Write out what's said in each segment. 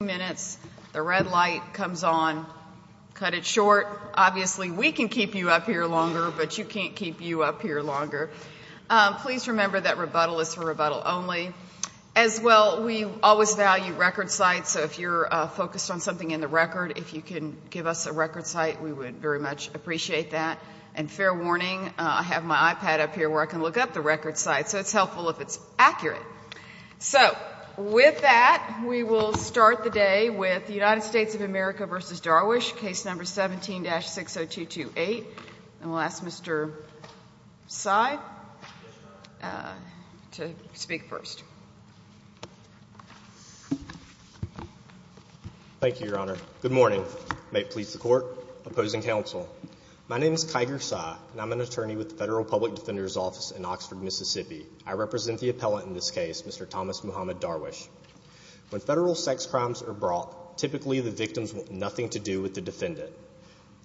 minutes. The red light comes on. Cut it short. Obviously, we can keep you up here longer, but you can't keep you up here longer. Please remember that rebuttal is for rebuttal only. As well, we always value record sites. So if you're focused on something in the record, if you can give us a record site, we would very much appreciate that. And fair warning, I have my iPad up here where I can look up the record site. So it's helpful if it's accurate. So with that, we will start the day with the United States of America v. Darwish, case number 17-60228. And we'll ask Mr. Sy to speak first. Thank you, Your Honor. Good morning. May it please the Court. Opposing counsel. My name is Kiger Sy, and I'm an attorney with the Federal Public Defender's Office in Oxford, Mississippi. I represent the appellant in this case, Mr. Thomas Muhammad Darwish. When federal sex crimes are brought, typically the victims want nothing to do with the defendant.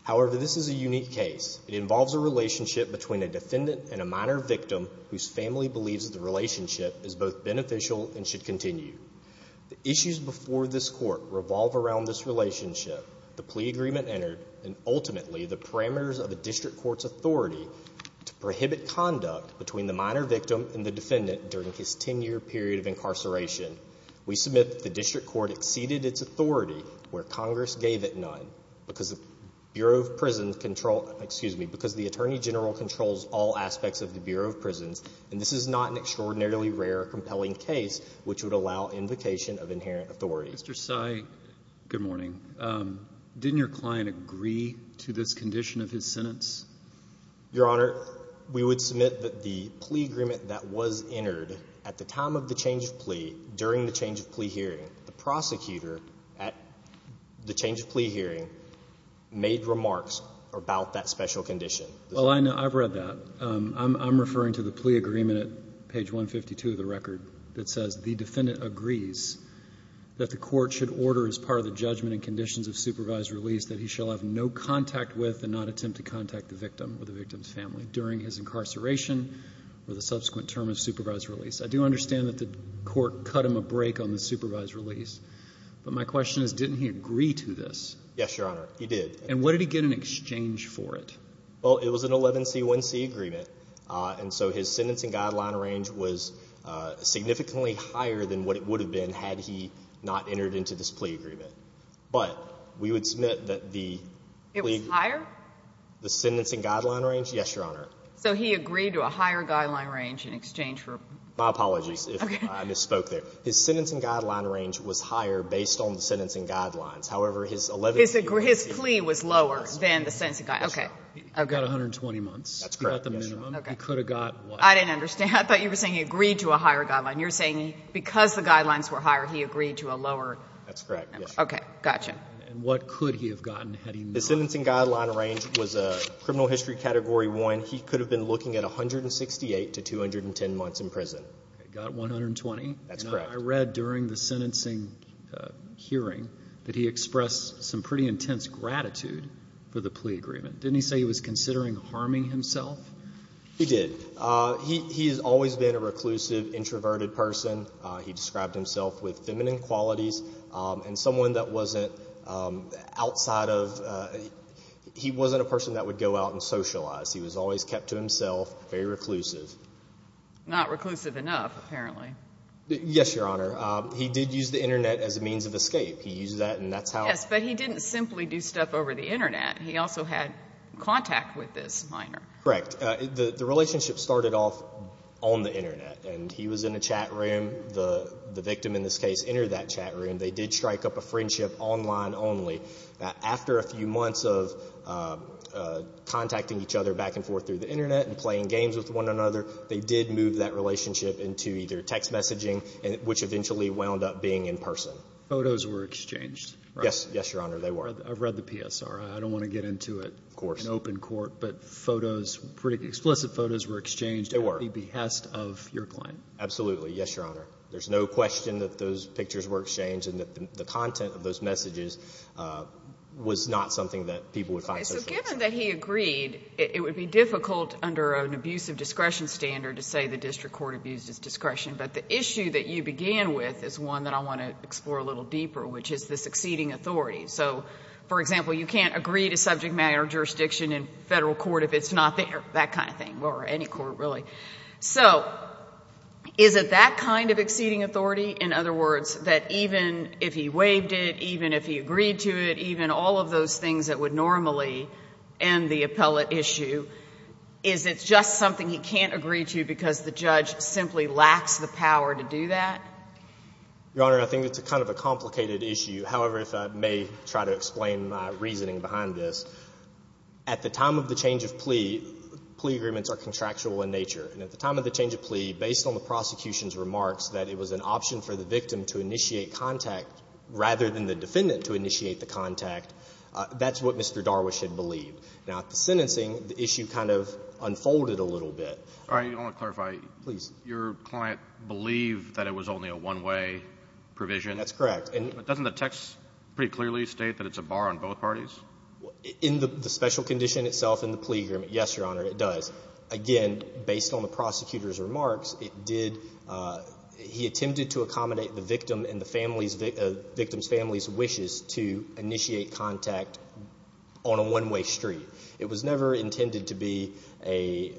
However, this is a unique case. It involves a relationship between a defendant and a minor victim whose family believes the relationship is both beneficial and should continue. The issues before this Court revolve around this relationship, the plea agreement entered, and ultimately the parameters of a district court's authority to prohibit conduct between the minor victim and the defendant during his 10-year period of incarceration. We submit that the district court exceeded its authority where Congress gave it none because the Bureau of Prisons controls, excuse me, because the Attorney General controls all aspects of the Bureau of Prisons, and this is not an extraordinarily rare or compelling case which would allow invocation of inherent authority. Mr. Sy, good morning. Didn't your client agree to this condition of his sentence? Your Honor, we would submit that the plea agreement that was entered at the time of the change of plea, during the change of plea hearing, the prosecutor at the change of plea hearing made remarks about that special condition. Well, I know. I've read that. I'm referring to the plea agreement at page 152 of the record that says the defendant agrees that the court should order as part of the judgment and conditions of supervised release that he shall have no contact with and not attempt to contact the victim or the victim's family during his incarceration or the subsequent term of supervised release. I do understand that the court cut him a break on the supervised release, but my question is didn't he agree to this? Yes, Your Honor, he did. And what did he get in exchange for it? Well, it was an 11c1c agreement, and so his sentencing guideline range was significantly higher than what it would have been had he not entered into this plea agreement. But we would submit that the plea agreement It was higher? The sentencing guideline range? Yes, Your Honor. So he agreed to a higher guideline range in exchange for my apologies if I misspoke there. His sentencing guideline range was higher based on the sentencing guidelines. However, his 11c1c agreement His plea was lower than the sentencing guideline. Okay. I've got 120 months. That's correct. He got the minimum. Okay. He could have got less. I didn't understand. I thought you were saying he agreed to a higher guideline. You're saying because the guidelines were higher, he agreed to a lower? That's correct, yes, Your Honor. Okay, gotcha. And what could he have gotten had he not? The sentencing guideline range was a criminal history category one. He could have been looking at 168 to 210 months in prison. He got 120? That's correct. I read during the sentencing hearing that he expressed some pretty intense gratitude for the plea agreement. Didn't he say he was considering harming himself? He did. He has always been a reclusive, introverted person. He described himself with feminine qualities and someone that wasn't outside of, he wasn't a person that would go out and socialize. He was always kept to himself, very reclusive. Not reclusive enough, apparently. Yes, Your Honor. He did use the internet as a means of escape. He used that and that's how Yes, but he didn't simply do stuff over the internet. He also had contact with this minor. Correct. The relationship started off on the internet and he was in a chat room. The victim, in this case, entered that chat room. They did strike up a friendship online only. After a few months of contacting each other back and forth through the internet and playing games with one another, they did move that relationship into either text messaging, which eventually wound up being in person. Photos were exchanged, right? Yes, Your Honor, they were. I've read the PSRI. I don't want to get into it in open court, but photos, pretty explicit photos were exchanged at the behest of your client. Absolutely. Yes, Your Honor. There's no question that those pictures were exchanged and that the content of those messages was not something that people would find social. Given that he agreed, it would be difficult under an abusive discretion standard to say the district court abused his discretion, but the issue that you began with is one that I want to explore a little deeper, which is the succeeding authority. For example, you can't agree to subject jurisdiction in federal court if it's not there, that kind of thing, or any court, really. So is it that kind of exceeding authority? In other words, that even if he waived it, even if he agreed to it, even all of those things that would normally end the appellate issue, is it just something he can't agree to because the judge simply lacks the power to do that? Your Honor, I think it's kind of a complicated issue. However, if I may try to explain my At the time of the change of plea, plea agreements are contractual in nature. And at the time of the change of plea, based on the prosecution's remarks that it was an option for the victim to initiate contact rather than the defendant to initiate the contact, that's what Mr. Darwish had believed. Now, at the sentencing, the issue kind of unfolded a little bit. All right. I want to clarify. Please. Your client believed that it was only a one-way provision. That's correct. Doesn't the text pretty clearly state that it's a bar on both parties? In the special condition itself, in the plea agreement, yes, Your Honor, it does. Again, based on the prosecutor's remarks, he attempted to accommodate the victim's family's wishes to initiate contact on a one-way street. It was never intended to be a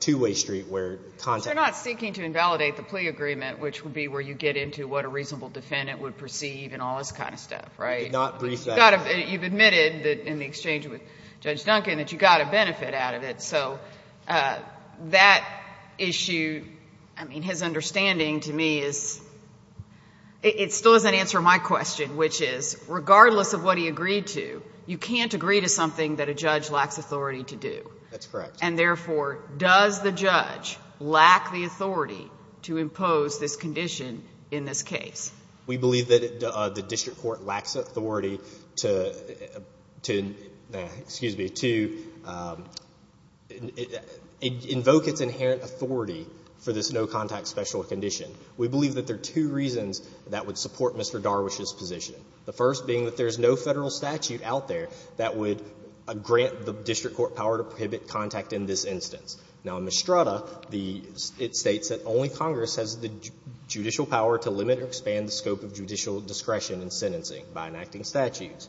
two-way street where contact You're not seeking to invalidate the plea agreement, which would be where you get into what a reasonable defendant would perceive and all this kind of stuff, right? Did not brief that. You've admitted that in the exchange with Judge Duncan that you got a benefit out of it. That issue, I mean, his understanding to me is, it still doesn't answer my question, which is regardless of what he agreed to, you can't agree to something that a judge lacks authority to do. That's correct. And therefore, does the judge lack the authority to impose this condition in this case? We believe that the district court lacks authority to, excuse me, to invoke its inherent authority for this no-contact special condition. We believe that there are two reasons that would support Mr. Darwish's position, the first being that there's no Federal statute out there that would grant the district court power to prohibit contact in this instance. Now, in Mistrada, it states that only Congress has the judicial power to limit or expand the scope of judicial discretion in sentencing by enacting statutes.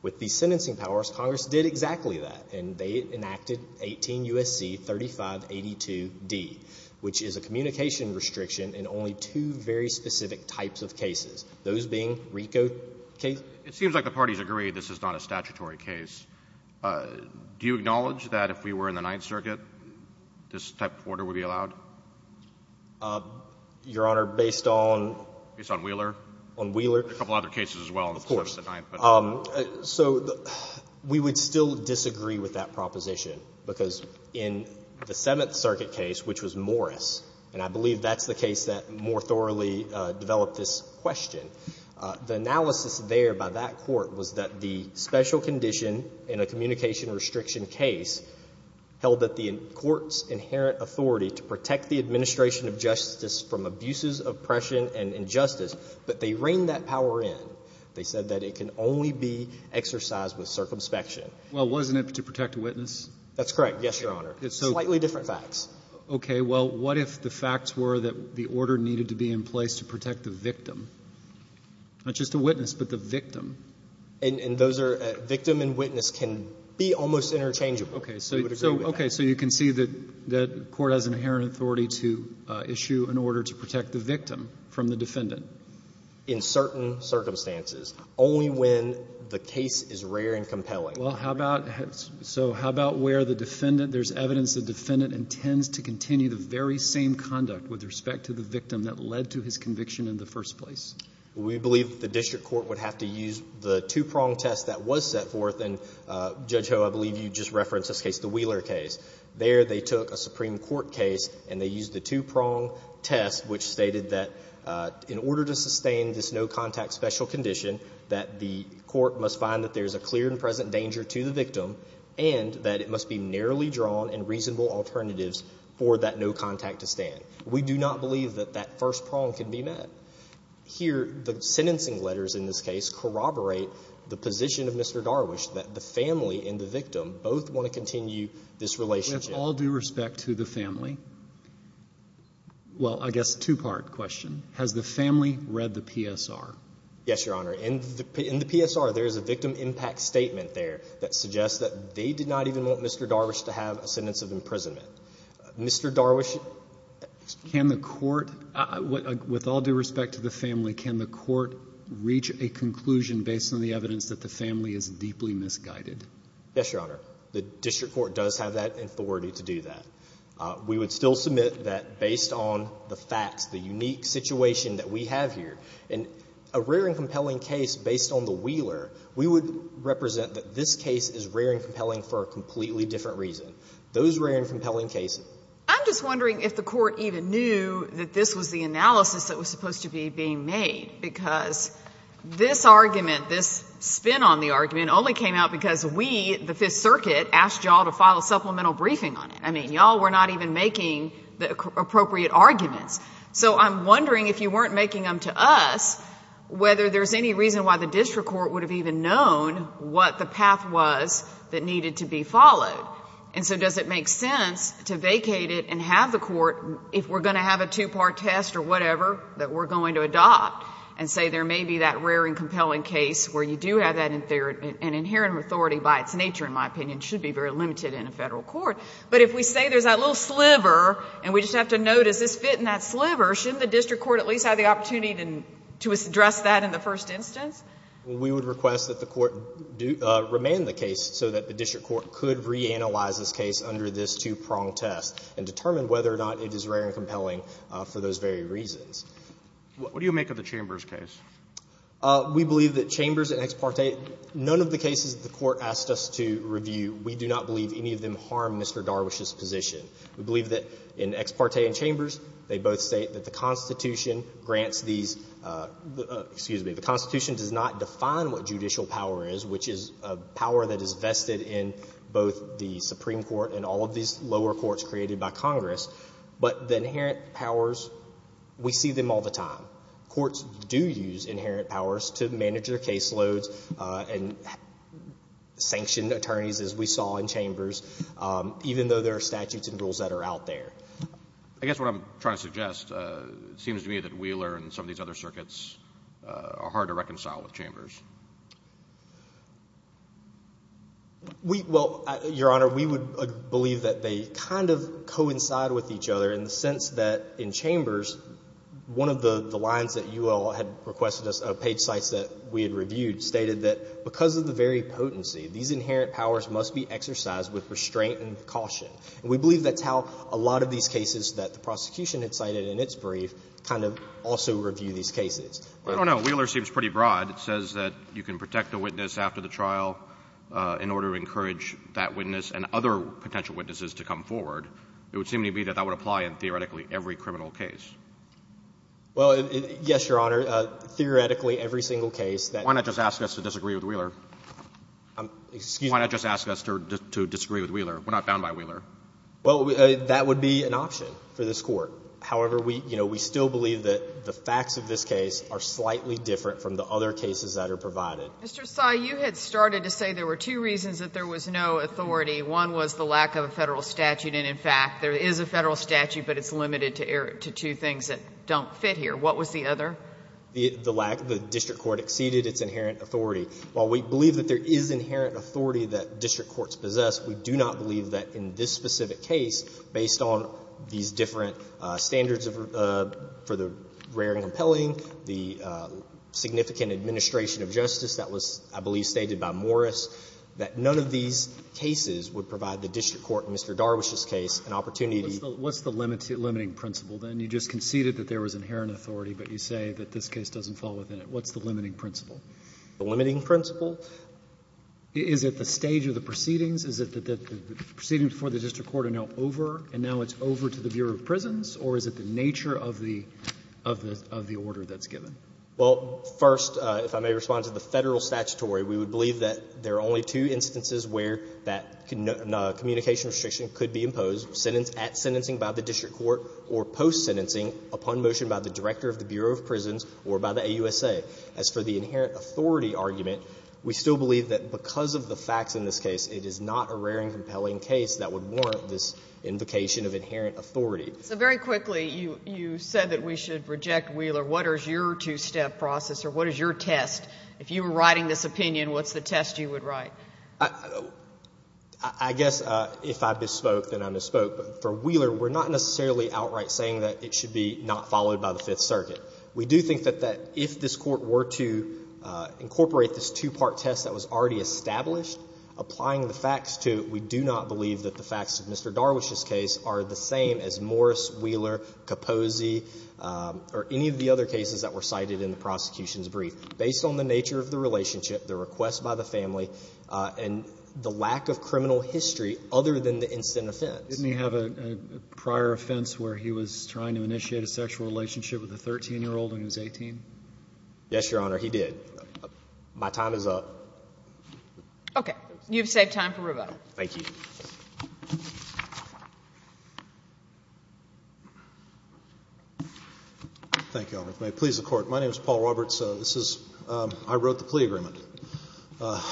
With these sentencing powers, Congress did exactly that, and they enacted 18 U.S.C. 3582D, which is a communication restriction in only two very specific types of cases, those being RICO cases. It seems like the parties agree this is not a statutory case. Do you acknowledge that if we were in the Ninth Circuit, this type of order would be allowed? Your Honor, based on? Based on Wheeler? On Wheeler? There are a couple other cases as well in the Seventh and Ninth. Of course. So we would still disagree with that proposition, because in the Seventh Circuit case, which was Morris, and I believe that's the case that more thoroughly developed this question, the analysis there by that court was that the special condition in a communication restriction case held that the court's inherent authority to protect the administration of justice from abuses, oppression, and injustice, but they reined that power in. They said that it can only be exercised with circumspection. Well, wasn't it to protect a witness? That's correct, yes, Your Honor. Slightly different facts. Okay. Well, what if the facts were that the order needed to be in place to protect the victim? Not just the witness, but the victim. And those are — victim and witness can be almost interchangeable. Okay. So you would agree with that? That court has inherent authority to issue an order to protect the victim from the defendant? In certain circumstances. Only when the case is rare and compelling. Well, how about — so how about where the defendant — there's evidence the defendant intends to continue the very same conduct with respect to the victim that led to his conviction in the first place? We believe the district court would have to use the two-prong test that was set forth in — Judge Ho, I believe you just referenced this case, the Wheeler case. There they took a Supreme Court case and they used the two-prong test which stated that in order to sustain this no-contact special condition, that the court must find that there's a clear and present danger to the victim and that it must be narrowly drawn and reasonable alternatives for that no-contact to stand. We do not believe that that first prong can be met. Here, the sentencing letters in this case corroborate the position of Mr. Darwish that the family and the victim both want to continue this relationship. With all due respect to the family — well, I guess two-part question. Has the family read the PSR? Yes, Your Honor. In the PSR, there is a victim impact statement there that suggests that they did not even want Mr. Darwish to have a sentence of imprisonment. Mr. Darwish — Can the court — with all due respect to the family, can the court reach a conclusion based on the evidence that the family is deeply misguided? Yes, Your Honor. The district court does have that authority to do that. We would still submit that based on the facts, the unique situation that we have here, in a rare and compelling case based on the Wheeler, we would represent that this case is rare and compelling for a completely different reason. Those rare and compelling cases — I'm just wondering if the court even knew that this was the analysis that was supposed to be being made, because this argument, this spin on the argument, only came out because we, the Fifth Circuit, asked y'all to file a supplemental briefing on it. I mean, y'all were not even making the appropriate arguments. So I'm wondering, if you weren't making them to us, whether there's any reason why the district court would have even known what the path was that needed to be followed. And so does it make sense to vacate it and have the court — if we're going to have a two-part test or whatever that we're going to adopt, and say there may be that rare and compelling case where you do have that inherent authority by its nature, in my opinion, should be very limited in a federal court. But if we say there's that little sliver, and we just have to know, does this fit in that sliver, shouldn't the district court at least have the opportunity to address that in the first instance? Well, we would request that the court remain the case so that the district court could reanalyze this case under this two-prong test and determine whether or not it is rare and compelling for those very reasons. What do you make of the Chambers case? We believe that Chambers and Ex parte — none of the cases the Court asked us to review, we do not believe any of them harm Mr. Darwish's position. We believe that in Ex parte and Chambers, they both state that the Constitution grants these — excuse me, the Constitution does not define what judicial power is, which is a power that is vested in both the Supreme Court and all of these lower courts created by Congress. But the inherent powers, we see them all the time. Courts do use inherent powers to manage their caseloads and sanction attorneys, as we saw in Chambers, even though there are statutes and rules that are out there. I guess what I'm trying to suggest, it seems to me that Wheeler and some of these other circuits are hard to reconcile with Chambers. We — well, Your Honor, we would believe that they kind of coincide with each other in the sense that in Chambers, one of the lines that you all had requested us — page sites that we had reviewed stated that because of the very potency, these inherent powers must be exercised with restraint and caution. And we believe that's how a lot of these cases that the prosecution had cited in its brief kind of also review these cases. I don't know. Wheeler seems pretty broad. It says that you can protect a witness after the trial in order to encourage that witness and other potential witnesses to come forward. It would seem to me that that would apply in theoretically every criminal case. Well, yes, Your Honor, theoretically every single case that — Why not just ask us to disagree with Wheeler? I'm — excuse me. Why not just ask us to disagree with Wheeler? We're not bound by Wheeler. Well, that would be an option for this Court. However, we — you know, we still believe that the facts of this case are slightly different from the other cases that are provided. Mr. Tsai, you had started to say there were two reasons that there was no authority. One was the lack of a Federal statute, and, in fact, there is a Federal statute, but it's limited to two things that don't fit here. What was the other? The lack — the district court exceeded its inherent authority. While we believe that there is inherent authority that district courts possess, we do not believe that in this specific case, based on these different standards for the rare and compelling, the significant administration of justice that was, I believe, stated by Morris, that none of these cases would provide the district court in Mr. Darwish's case an opportunity to — What's the limiting principle, then? You just conceded that there was inherent authority, but you say that this case doesn't fall within it. What's the limiting principle? The limiting principle? Is it the stage of the proceedings? Is it that the proceedings before the district court are now over, and now it's over to the Bureau of Prisons, or is it the nature of the — of the order that's given? Well, first, if I may respond to the Federal statutory, we would believe that there are only two instances where that communication restriction could be imposed, at sentencing by the district court or post-sentencing, upon motion by the director of the Bureau of Prisons or by the AUSA. As for the inherent authority argument, we still believe that because of the facts in this case, it is not a rare and compelling case that would warrant this invocation of inherent authority. So very quickly, you said that we should reject Wheeler. What is your two-step process, or what is your test? If you were writing this opinion, what's the test you would write? I guess if I bespoke, then I bespoke. But for Wheeler, we're not necessarily outright saying that it should be not followed by the Fifth Circuit. We do think that if this Court were to incorporate this two-part test that was already established, applying the facts to it, we do not believe that the facts of Mr. Marwish's case are the same as Morris, Wheeler, Capozzi, or any of the other cases that were cited in the prosecution's brief, based on the nature of the relationship, the request by the family, and the lack of criminal history other than the instant offense. Didn't he have a prior offense where he was trying to initiate a sexual relationship with a 13-year-old when he was 18? Yes, Your Honor, he did. My time is up. Okay. You've saved time for rebuttal. Thank you. Thank you, Your Honor. If you may please the Court. My name is Paul Roberts. This is, I wrote the plea agreement. I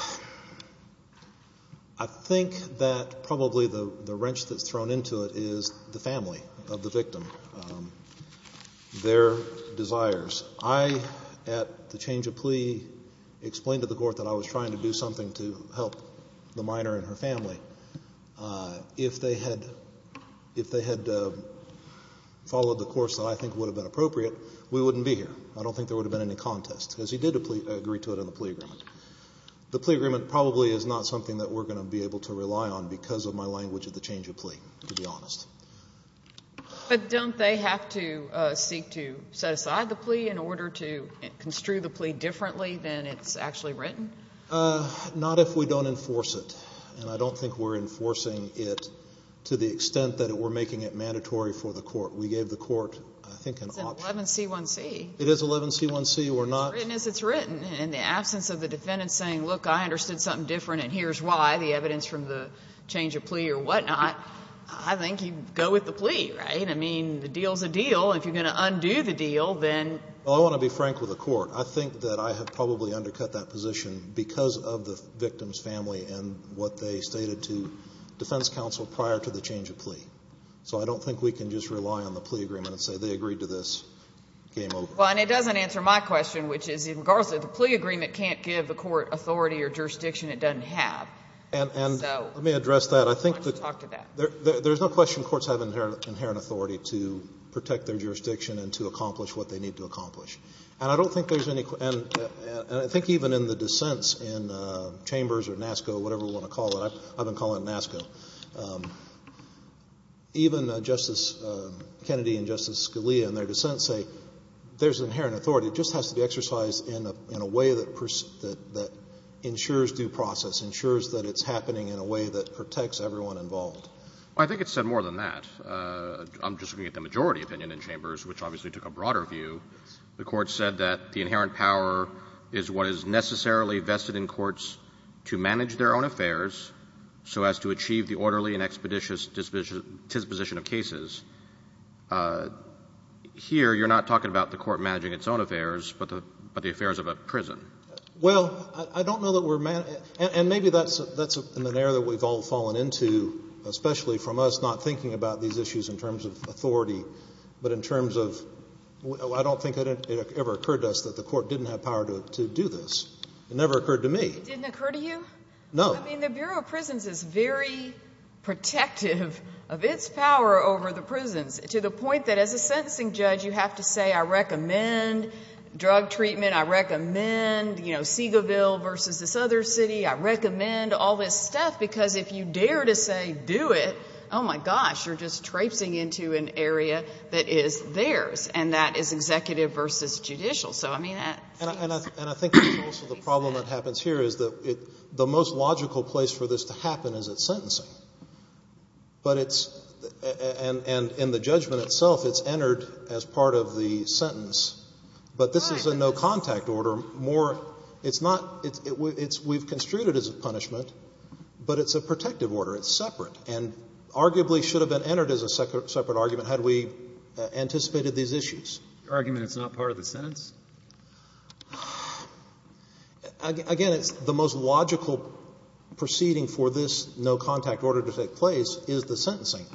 think that probably the wrench that's thrown into it is the family of the victim, their desires. I, at the change of plea, explained to the Court that I was trying to do something to help the minor and her family. If they had followed the course that I think would have been appropriate, we wouldn't be here. I don't think there would have been any contest, because he did agree to it in the plea agreement. The plea agreement probably is not something that we're going to be able to rely on because of my language of the change of plea, to be honest. But don't they have to seek to set aside the plea in order to construe the plea differently than it's actually written? Not if we don't enforce it. And I don't think we're enforcing it to the extent that we're making it mandatory for the Court. We gave the Court, I think, an option. It's an 11C1C. It is 11C1C. We're not— It's written as it's written. In the absence of the defendant saying, look, I understood something different and here's why, the evidence from the change of plea or whatnot, I think you'd go with the plea, right? I mean, the deal's a deal. If you're going to undo the deal, then— Well, I want to be frank with the Court. I think that I have probably undercut that position because of the victim's family and what they stated to defense counsel prior to the change of plea. So I don't think we can just rely on the plea agreement and say they agreed to this, game over. Well, and it doesn't answer my question, which is in regards to the plea agreement can't give the Court authority or jurisdiction it doesn't have. And let me address that. I think that— Why don't you talk to that? There's no question Courts have inherent authority to protect their jurisdiction and to accomplish what they need to accomplish. And I don't think there's any—and I think even in the dissents in Chambers or NASCO, whatever you want to call it, I've been calling it NASCO, even Justice Kennedy and Justice Scalia in their dissents say there's inherent authority. It just has to be exercised in a way that ensures due process, ensures that it's happening in a way that protects everyone involved. Well, I think it's said more than that. I'm just looking at the majority opinion in Chambers, which obviously took a broader view. The Court said that the inherent power is what is necessarily vested in Courts to manage their own affairs so as to achieve the orderly and expeditious disposition of cases. Here, you're not talking about the Court managing its own affairs, but the affairs of a prison. Well, I don't know that we're—and maybe that's an area that we've all fallen into, especially from us not thinking about these issues in terms of authority, but in terms of I don't think it ever occurred to us that the Court didn't have power to do this. It never occurred to me. It didn't occur to you? No. I mean, the Bureau of Prisons is very protective of its power over the prisons to the point that as a sentencing judge, you have to say, I recommend drug treatment. I recommend, you know, Segalville versus this other city. I recommend all this stuff because if you dare to say do it, oh my gosh, you're just And that is executive versus judicial. So I mean— And I think also the problem that happens here is that the most logical place for this to happen is at sentencing. But it's—and in the judgment itself, it's entered as part of the sentence. But this is a no-contact order. More—it's not—it's—we've construed it as a punishment, but it's a protective order. It's separate and arguably should have been entered as a separate argument had we anticipated these issues. Argument it's not part of the sentence? Again, it's the most logical proceeding for this no-contact order to take place is the sentencing.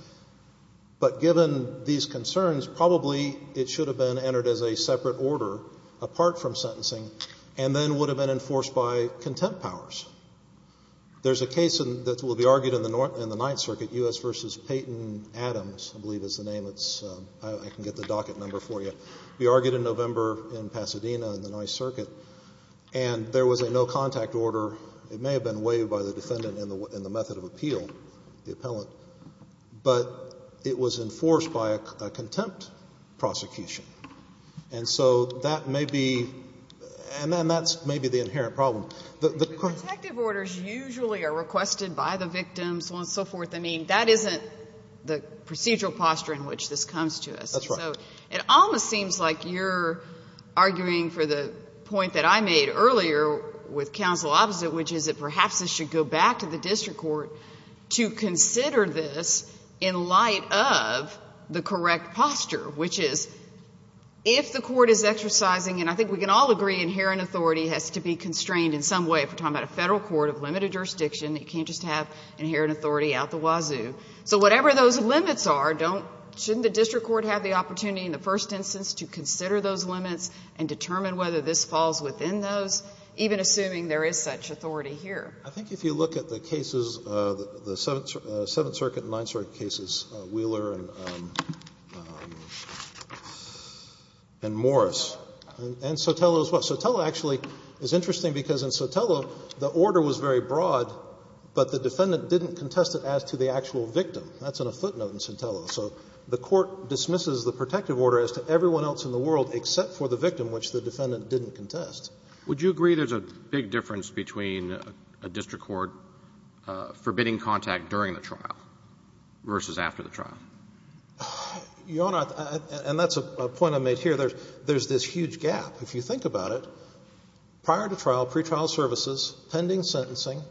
But given these concerns, probably it should have been entered as a separate order apart from sentencing and then would have been enforced by contempt powers. There's a case that will be argued in the Ninth Circuit, U.S. versus Peyton Adams, I believe is the name. It's—I can get the docket number for you. We argued in November in Pasadena in the Ninth Circuit, and there was a no-contact order. It may have been waived by the defendant in the method of appeal, the appellant, but it was enforced by a contempt prosecution. And so that may be—and then that's maybe the inherent problem. The— The protective orders usually are requested by the victims and so forth. That isn't the procedural posture in which this comes to us. That's right. It almost seems like you're arguing for the point that I made earlier with counsel opposite, which is that perhaps this should go back to the district court to consider this in light of the correct posture, which is if the court is exercising—and I think we can all agree inherent authority has to be constrained in some way. If we're talking about a Federal court of limited jurisdiction, it can't just have So whatever those limits are, don't—shouldn't the district court have the opportunity in the first instance to consider those limits and determine whether this falls within those, even assuming there is such authority here? I think if you look at the cases, the Seventh Circuit and Ninth Circuit cases, Wheeler and Morris and Sotelo as well. Sotelo actually is interesting because in Sotelo, the order was very broad, but the actual victim, that's in a footnote in Sotelo. So the court dismisses the protective order as to everyone else in the world except for the victim, which the defendant didn't contest. Would you agree there's a big difference between a district court forbidding contact during the trial versus after the trial? Your Honor, and that's a point I made here, there's this huge gap. If you think about it, prior to trial, pretrial services, pending sentencing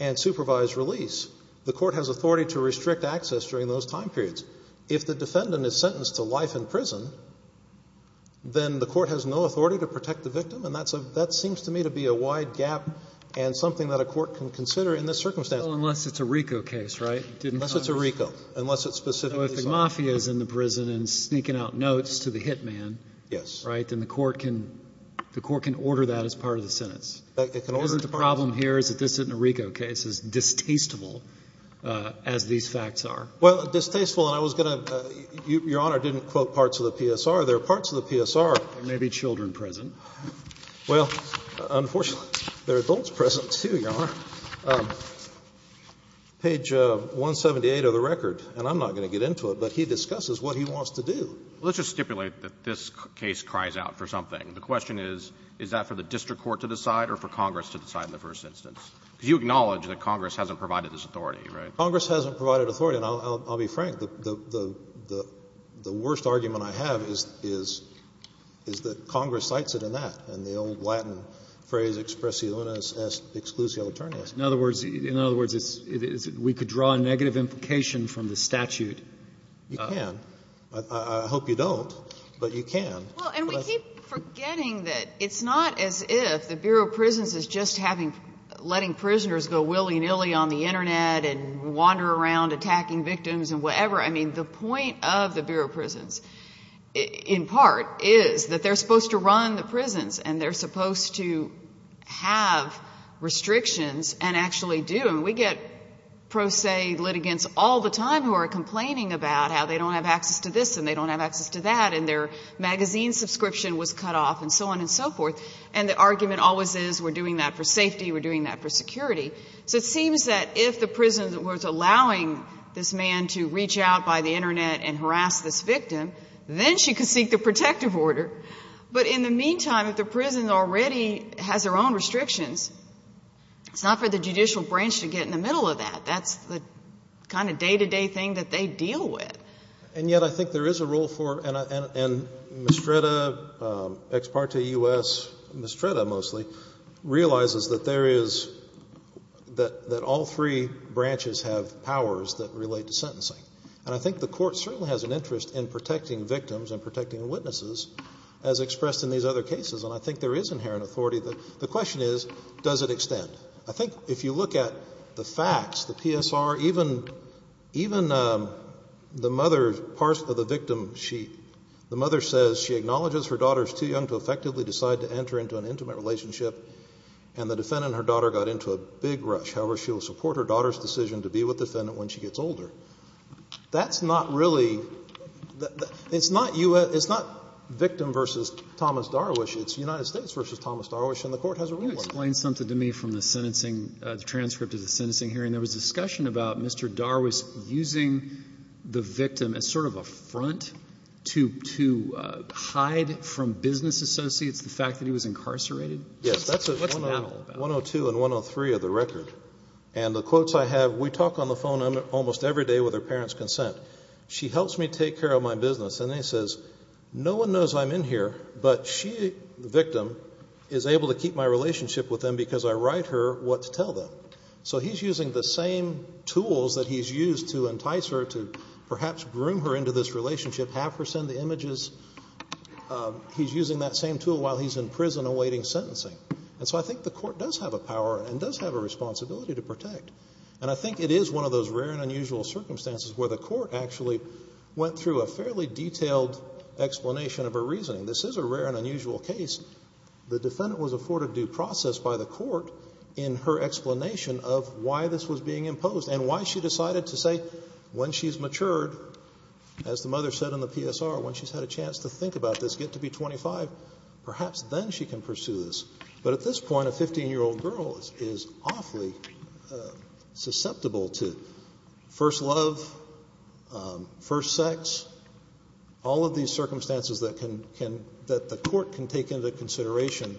and supervised release, the court has authority to restrict access during those time periods. If the defendant is sentenced to life in prison, then the court has no authority to protect the victim. And that seems to me to be a wide gap and something that a court can consider in this circumstance. Unless it's a RICO case, right? Unless it's a RICO. Unless it's specifically— If the mafia is in the prison and sneaking out notes to the hitman, right, then the court can order that as part of the sentence. It can order that. The problem here is that this isn't a RICO case. It's distasteful as these facts are. Well, distasteful, and I was going to—Your Honor didn't quote parts of the PSR. There are parts of the PSR. There may be children present. Well, unfortunately, there are adults present, too, Your Honor. Page 178 of the record, and I'm not going to get into it, but he discusses what he wants to do. Let's just stipulate that this case cries out for something. The question is, is that for the district court to decide or for Congress to decide on the first instance? Because you acknowledge that Congress hasn't provided this authority, right? Congress hasn't provided authority, and I'll be frank. The worst argument I have is that Congress cites it in that, in the old Latin phrase expressionis exclusio eternis. In other words, we could draw a negative implication from the statute. You can. I hope you don't, but you can. And we keep forgetting that it's not as if the Bureau of Prisons is just letting prisoners go willy-nilly on the Internet and wander around attacking victims and whatever. I mean, the point of the Bureau of Prisons, in part, is that they're supposed to run the prisons, and they're supposed to have restrictions and actually do. And we get pro se litigants all the time who are complaining about how they don't have access to this and they don't have access to that. And their magazine subscription was cut off and so on and so forth. And the argument always is we're doing that for safety, we're doing that for security. So it seems that if the prison was allowing this man to reach out by the Internet and harass this victim, then she could seek the protective order. But in the meantime, if the prison already has their own restrictions, it's not for the judicial branch to get in the middle of that. That's the kind of day-to-day thing that they deal with. And yet I think there is a role for, and Mistretta, ex parte U.S., Mistretta mostly, realizes that there is, that all three branches have powers that relate to sentencing. And I think the Court certainly has an interest in protecting victims and protecting witnesses, as expressed in these other cases. And I think there is inherent authority. The question is, does it extend? I think if you look at the facts, the PSR, even the mother, part of the victim, she, the mother says she acknowledges her daughter is too young to effectively decide to enter into an intimate relationship, and the defendant and her daughter got into a big rush. However, she will support her daughter's decision to be with the defendant when she gets older. That's not really, it's not U.S., it's not victim versus Thomas Darwish, it's United States versus Thomas Darwish, and the Court has a role. Can you explain something to me from the sentencing, the transcript of the sentencing hearing? There was discussion about Mr. Darwish using the victim as sort of a front to hide from business associates the fact that he was incarcerated? Yes. That's what 102 and 103 of the record, and the quotes I have, we talk on the phone almost every day with her parents' consent. She helps me take care of my business, and then says, no one knows I'm in here, but she, the victim, is able to keep my relationship with them because I write her what to tell them. So he's using the same tools that he's used to entice her to perhaps groom her into this relationship, have her send the images. He's using that same tool while he's in prison awaiting sentencing, and so I think the Court does have a power and does have a responsibility to protect, and I think it is one of those rare and unusual circumstances where the Court actually went through a fairly detailed explanation of her reasoning. This is a rare and unusual case. The defendant was afforded due process by the Court in her explanation of why this was being imposed and why she decided to say when she's matured, as the mother said in the PSR, when she's had a chance to think about this, get to be 25, perhaps then she can pursue this. But at this point, a 15-year-old girl is awfully susceptible to first love, first sex, all of these circumstances that the Court can take into consideration.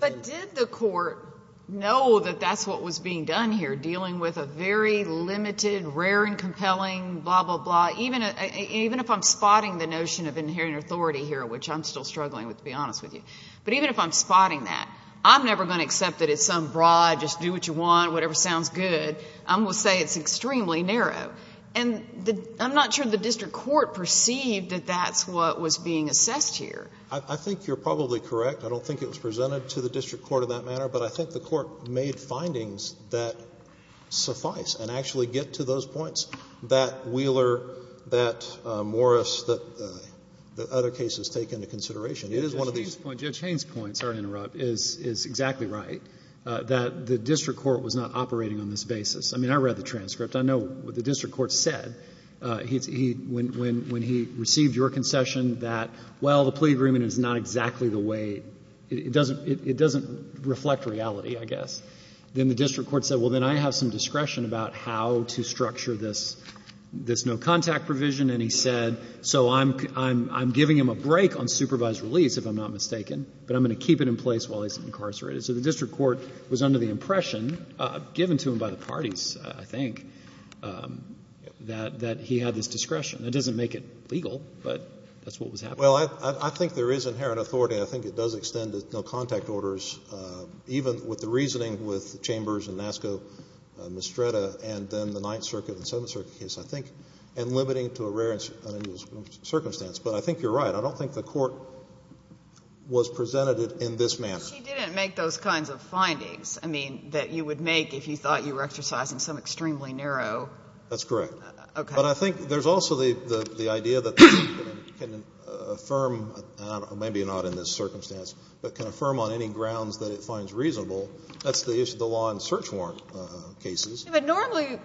But did the Court know that that's what was being done here, dealing with a very limited, rare and compelling blah, blah, blah, even if I'm spotting the notion of inherent authority here, which I'm still struggling with, to be honest with you, but even if I'm spotting that, I'm never going to accept that it's some broad, just do what you want, whatever sounds good. I'm going to say it's extremely narrow. And I'm not sure the district court perceived that that's what was being assessed here. I think you're probably correct. I don't think it was presented to the district court in that manner. But I think the Court made findings that suffice and actually get to those points that Wheeler, that Morris, that other cases take into consideration. It is one of these. on this basis. I mean, I read the transcript. I know what the district court said when he received your concession that, well, the plea agreement is not exactly the way, it doesn't reflect reality, I guess. Then the district court said, well, then I have some discretion about how to structure this no-contact provision. And he said, so I'm giving him a break on supervised release, if I'm not mistaken, but I'm going to keep it in place while he's incarcerated. So the district court was under the impression, given to him by the parties, I think, that he had this discretion. That doesn't make it legal, but that's what was happening. Well, I think there is inherent authority. I think it does extend to no-contact orders, even with the reasoning with Chambers and NASCO, Mistretta, and then the Ninth Circuit and Seventh Circuit case, I think, and limiting to a rare and unusual circumstance. But I think you're right. I don't think the Court was presented it in this manner. But she didn't make those kinds of findings, I mean, that you would make if you thought you were exercising some extremely narrow. That's correct. Okay. But I think there's also the idea that the defendant can affirm, maybe not in this circumstance, but can affirm on any grounds that it finds reasonable. That's the issue of the law in search warrant cases. But normally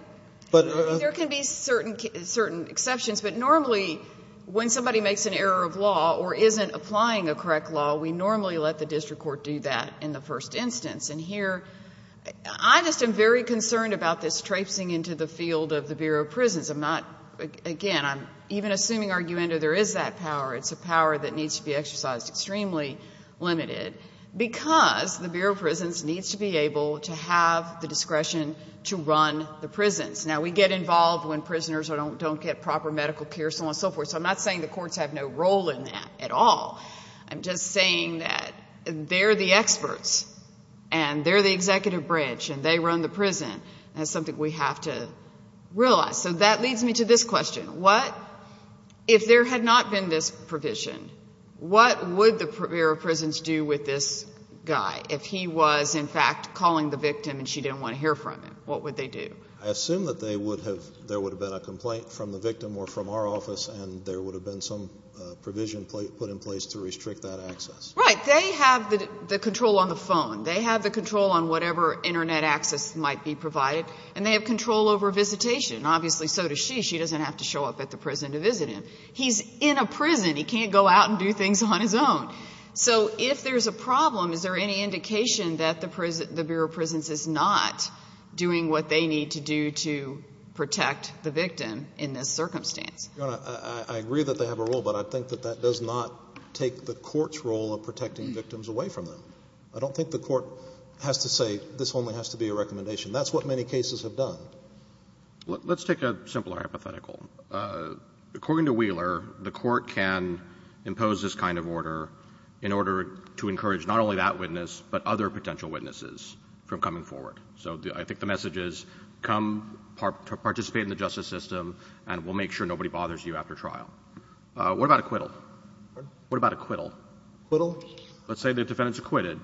there can be certain exceptions, but normally when somebody makes an error of law or isn't applying a correct law, we normally let the district court do that in the first instance. And here, I just am very concerned about this traipsing into the field of the Bureau of Prisons. I'm not, again, I'm even assuming arguendo there is that power. It's a power that needs to be exercised extremely limited because the Bureau of Prisons needs to be able to have the discretion to run the prisons. Now, we get involved when prisoners don't get proper medical care, so on and so forth. I'm not saying the courts have no role in that at all. I'm just saying that they're the experts, and they're the executive branch, and they run the prison. That's something we have to realize. So that leads me to this question. What, if there had not been this provision, what would the Bureau of Prisons do with this guy if he was, in fact, calling the victim and she didn't want to hear from him? What would they do? I assume that they would have, there would have been a complaint from the victim or from our office, and there would have been some provision put in place to restrict that access. Right. They have the control on the phone. They have the control on whatever internet access might be provided, and they have control over visitation. Obviously, so does she. She doesn't have to show up at the prison to visit him. He's in a prison. He can't go out and do things on his own. So if there's a problem, is there any indication that the Bureau of Prisons is not doing what they need to do to protect the victim in this circumstance? Your Honor, I agree that they have a role, but I think that that does not take the court's role of protecting victims away from them. I don't think the court has to say this only has to be a recommendation. That's what many cases have done. Let's take a simpler hypothetical. According to Wheeler, the court can impose this kind of order in order to encourage not only that witness, but other potential witnesses from coming forward. So I think the message is, come participate in the justice system, and we'll make sure nobody bothers you after trial. What about acquittal? What about acquittal? Acquittal? Let's say the defendant's acquitted.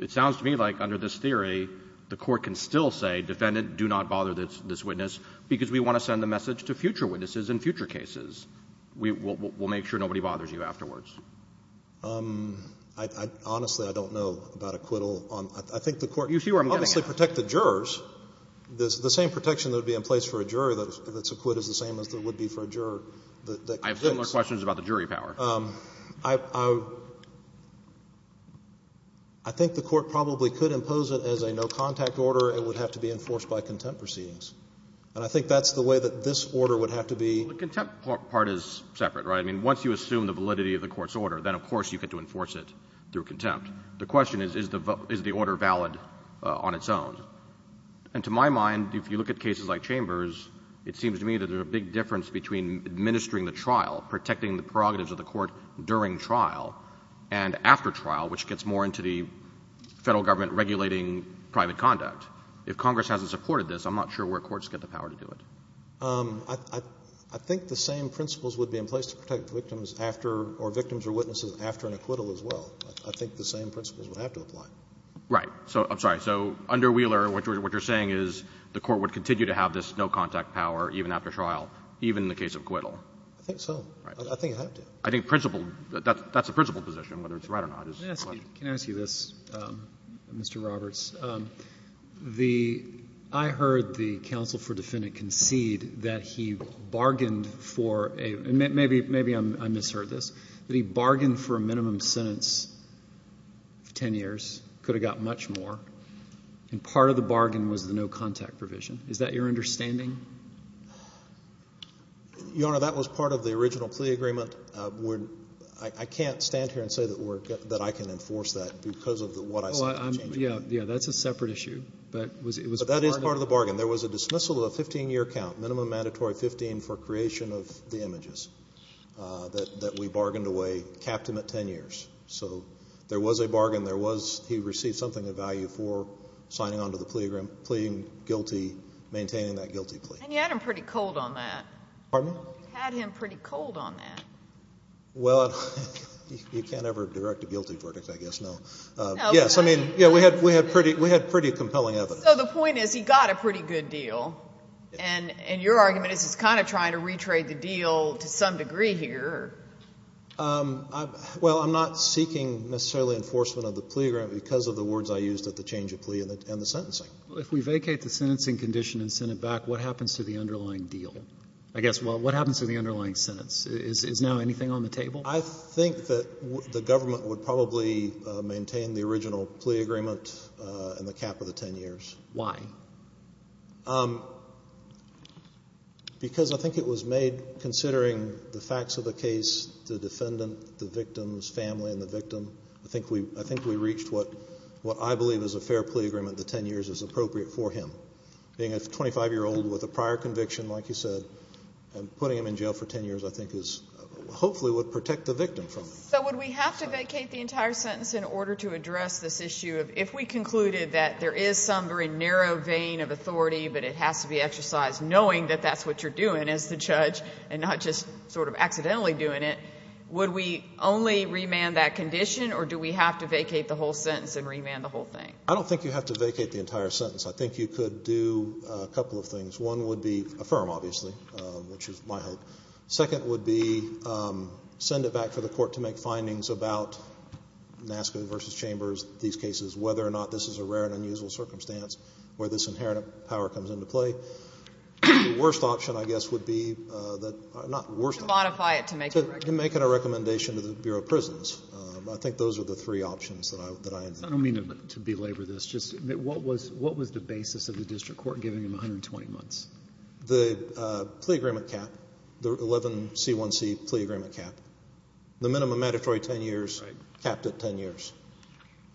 It sounds to me like, under this theory, the court can still say, defendant, do not bother this witness, because we want to send a message to future witnesses in future cases. We'll make sure nobody bothers you afterwards. Honestly, I don't know about acquittal. I think the court— You see where I'm getting at. —protect the jurors. The same protection that would be in place for a jury that's acquitted is the same as it would be for a juror that— I have similar questions about the jury power. I think the court probably could impose it as a no-contact order. It would have to be enforced by contempt proceedings. And I think that's the way that this order would have to be— The contempt part is separate, right? I mean, once you assume the validity of the court's order, then, of course, you get to enforce it through contempt. The question is, is the order valid on its own? And to my mind, if you look at cases like Chambers, it seems to me that there's a big difference between administering the trial, protecting the prerogatives of the court during trial, and after trial, which gets more into the Federal Government regulating private conduct. If Congress hasn't supported this, I'm not sure where courts get the power to do it. I think the same principles would be in place to protect victims after—or victims or witnesses after an acquittal as well. I think the same principles would have to apply. Right. So—I'm sorry. So under Wheeler, what you're saying is the court would continue to have this no-contact power even after trial, even in the case of acquittal? I think so. Right. I think it would have to. I think principle—that's the principal position, whether it's right or not. May I ask you this, Mr. Roberts? I heard the counsel for defendant concede that he bargained for a—and maybe I misheard this—that he bargained for a minimum sentence of 10 years, could have got much more, and part of the bargain was the no-contact provision. Is that your understanding? Your Honor, that was part of the original plea agreement. I can't stand here and say that I can enforce that because of what I said. Yeah. That's a separate issue, but it was part of— But that is part of the bargain. There was a dismissal of a 15-year count, minimum mandatory 15, for creation of the plea agreement, which we bargained away, capped him at 10 years. So there was a bargain. There was—he received something of value for signing onto the plea agreement, pleading guilty, maintaining that guilty plea. And you had him pretty cold on that. Pardon me? You had him pretty cold on that. Well, you can't ever direct a guilty verdict, I guess, no. Yes, I mean, yeah, we had pretty compelling evidence. So the point is he got a pretty good deal, and your argument is he's kind of trying to Well, I'm not seeking necessarily enforcement of the plea agreement because of the words I used at the change of plea and the sentencing. If we vacate the sentencing condition and send it back, what happens to the underlying deal? I guess, well, what happens to the underlying sentence? Is now anything on the table? I think that the government would probably maintain the original plea agreement in the cap of the 10 years. Why? Because I think it was made considering the facts of the case, the defendant, the victim's family, and the victim. I think we reached what I believe is a fair plea agreement, the 10 years is appropriate for him. Being a 25-year-old with a prior conviction, like you said, and putting him in jail for 10 years, I think is—hopefully would protect the victim from it. So would we have to vacate the entire sentence in order to address this issue of if we concluded that there is some very narrow vein of authority but it has to be exercised knowing that that's what you're doing as the judge and not just sort of accidentally doing it, would we only remand that condition or do we have to vacate the whole sentence and remand the whole thing? I don't think you have to vacate the entire sentence. I think you could do a couple of things. One would be affirm, obviously, which is my hope. Second would be send it back for the court to make findings about NASCA versus Chambers, these cases, whether or not this is a rare and unusual circumstance where this inherent power comes into play. The worst option, I guess, would be that—not worst option— To modify it to make it a— To make it a recommendation to the Bureau of Prisons. I think those are the three options that I— I don't mean to belabor this. Just what was the basis of the district court giving him 120 months? The plea agreement cap, the 11C1C plea agreement cap. The minimum mandatory 10 years capped at 10 years.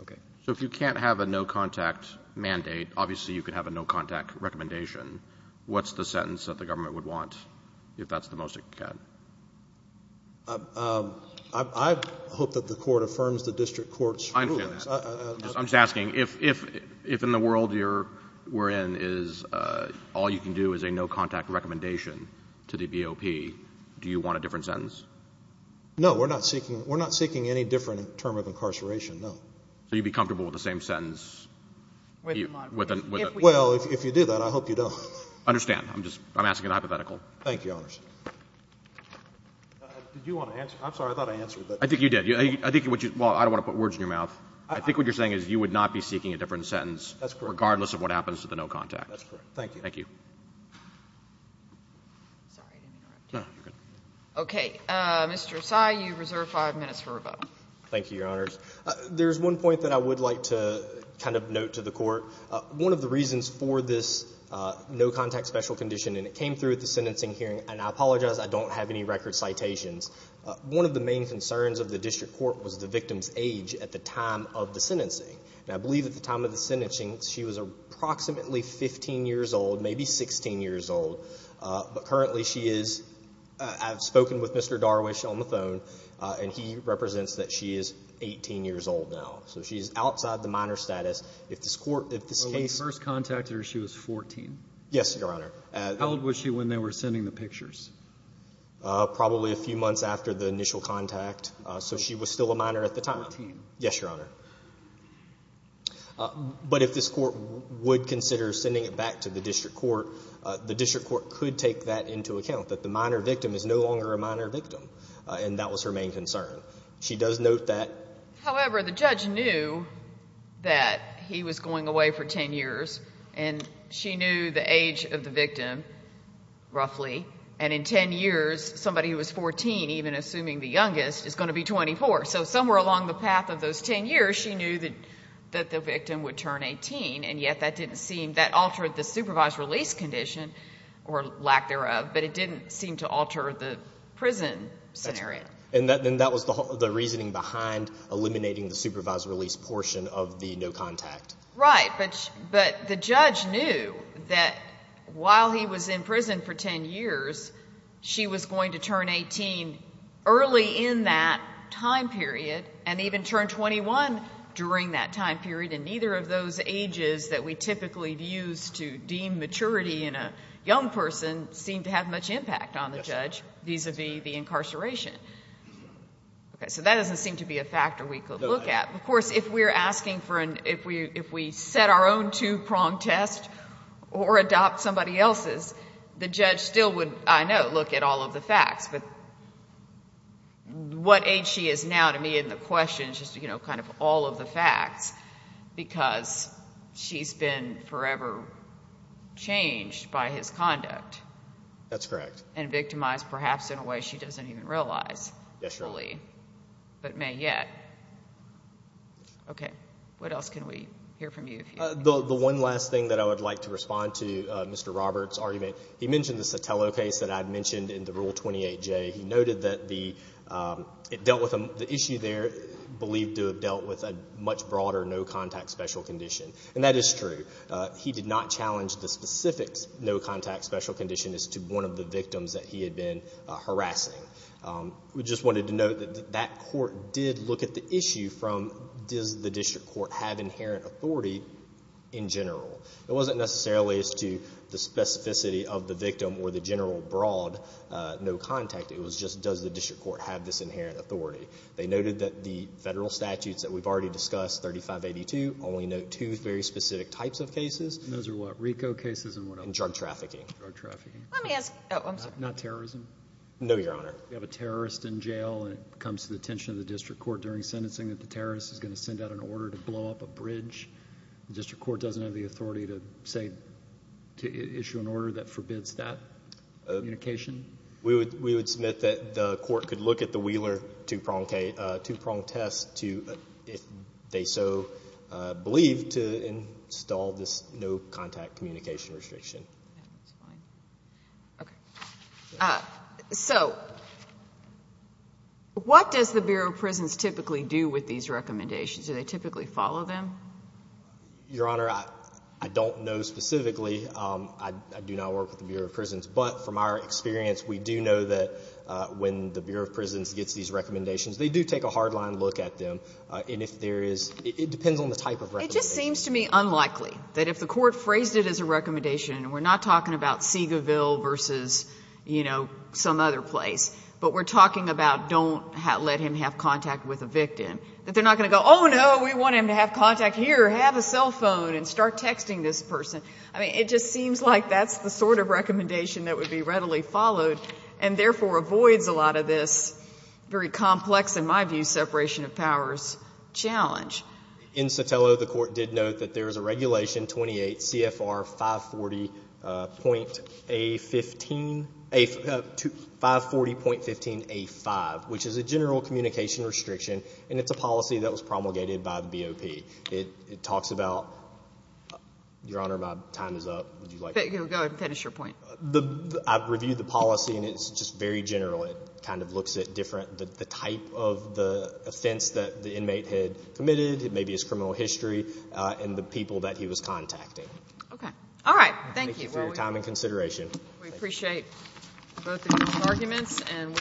Okay. So if you can't have a no-contact mandate, obviously you could have a no-contact recommendation. What's the sentence that the government would want if that's the most it can? I hope that the court affirms the district court's rulings. I'm just asking, if in the world you're—we're in is all you can do is a no-contact recommendation to the BOP, do you want a different sentence? No. We're not seeking—we're not seeking any different term of incarceration. No. So you'd be comfortable with the same sentence? Well, if you do that, I hope you don't. Understand. I'm just—I'm asking a hypothetical. Thank you, Your Honors. Did you want to answer? I'm sorry. I thought I answered that. I think you did. I think what you—well, I don't want to put words in your mouth. I think what you're saying is you would not be seeking a different sentence— That's correct. —regardless of what happens to the no-contact. That's correct. Thank you. Thank you. Sorry, I didn't interrupt you. No, you're good. Okay. Mr. Asai, you reserve five minutes for a vote. Thank you, Your Honors. There's one point that I would like to kind of note to the Court. One of the reasons for this no-contact special condition—and it came through at the sentencing hearing, and I apologize, I don't have any record citations. One of the main concerns of the District Court was the victim's age at the time of the sentencing. And I believe at the time of the sentencing, she was approximately 15 years old, maybe 16 years old. But currently, she is—I've spoken with Mr. Darwish on the phone, and he represents that she is 18 years old now. So she's outside the minor status. If this Court— When you first contacted her, she was 14? Yes, Your Honor. How old was she when they were sending the pictures? Probably a few months after the initial contact. So she was still a minor at the time. Fourteen. Yes, Your Honor. But if this Court would consider sending it back to the District Court, the District Court could take that into account, that the minor victim is no longer a minor victim, and that was her main concern. She does note that— However, the judge knew that he was going away for 10 years, and she knew the age of the victim, roughly, and in 10 years, somebody who was 14, even assuming the youngest, is going to be 24. So somewhere along the path of those 10 years, she knew that the victim would turn 18, and yet that didn't seem—that altered the supervised release condition, or lack thereof, but it didn't seem to alter the prison scenario. And that was the reasoning behind eliminating the supervised release portion of the no-contact. Right, but the judge knew that while he was in prison for 10 years, she was going to turn 18 early in that time period, and even turn 21 during that time period, and neither of those ages that we typically use to deem maturity in a young person seem to have much impact on the judge vis-a-vis the incarceration. Okay, so that doesn't seem to be a factor we could look at. Of course, if we're asking for an—if we set our own two-prong test or adopt somebody else's, the judge still would, I know, look at all of the facts. But what age she is now, to me, in the question is just, you know, kind of all of the facts, because she's been forever changed by his conduct. That's correct. And victimized, perhaps, in a way she doesn't even realize fully, but may yet. Okay, what else can we hear from you? The one last thing that I would like to respond to Mr. Roberts' argument, he mentioned the Sotelo case that I'd mentioned in the Rule 28J. He noted that the—it dealt with—the issue there, believed to have dealt with a much broader no-contact special condition. And that is true. He did not challenge the specific no-contact special condition as to one of the victims that he had been harassing. We just wanted to note that that court did look at the issue from, does the district court have inherent authority in general? It wasn't necessarily as to the specificity of the victim or the general broad no-contact. It was just, does the district court have this inherent authority? They noted that the federal statutes that we've already discussed, 3582, only note two very specific types of cases. And those are what? RICO cases and what else? Drug trafficking. Drug trafficking. Let me ask—oh, I'm sorry. Not terrorism? No, Your Honor. We have a terrorist in jail, and it comes to the attention of the district court during terrorist is going to send out an order to blow up a bridge. The district court doesn't have the authority to say, to issue an order that forbids that communication? We would submit that the court could look at the Wheeler two-prong test to, if they so believe, to install this no-contact communication restriction. Okay. So what does the Bureau of Prisons typically do with these recommendations? Do they typically follow them? Your Honor, I don't know specifically. I do not work with the Bureau of Prisons. But from our experience, we do know that when the Bureau of Prisons gets these recommendations, they do take a hard-line look at them. And if there is, it depends on the type of recommendation. It just seems to me unlikely that if the court phrased it as a recommendation, we're not talking about Seagoville versus, you know, some other place, but we're talking about don't let him have contact with a victim, that they're not going to go, oh, no, we want him to have contact here. Have a cell phone and start texting this person. I mean, it just seems like that's the sort of recommendation that would be readily followed and therefore avoids a lot of this very complex, in my view, separation of powers challenge. In Sotelo, the court did note that there is a regulation 28 CFR 540.15A5, which is a general communication restriction. And it's a policy that was promulgated by the BOP. It talks about, Your Honor, my time is up. Would you like to finish your point? I've reviewed the policy, and it's just very general. It kind of looks at different, the type of the offense that the inmate had committed, maybe his criminal history, and the people that he was contacting. Okay. All right. Thank you for your time and consideration. We appreciate both of your arguments and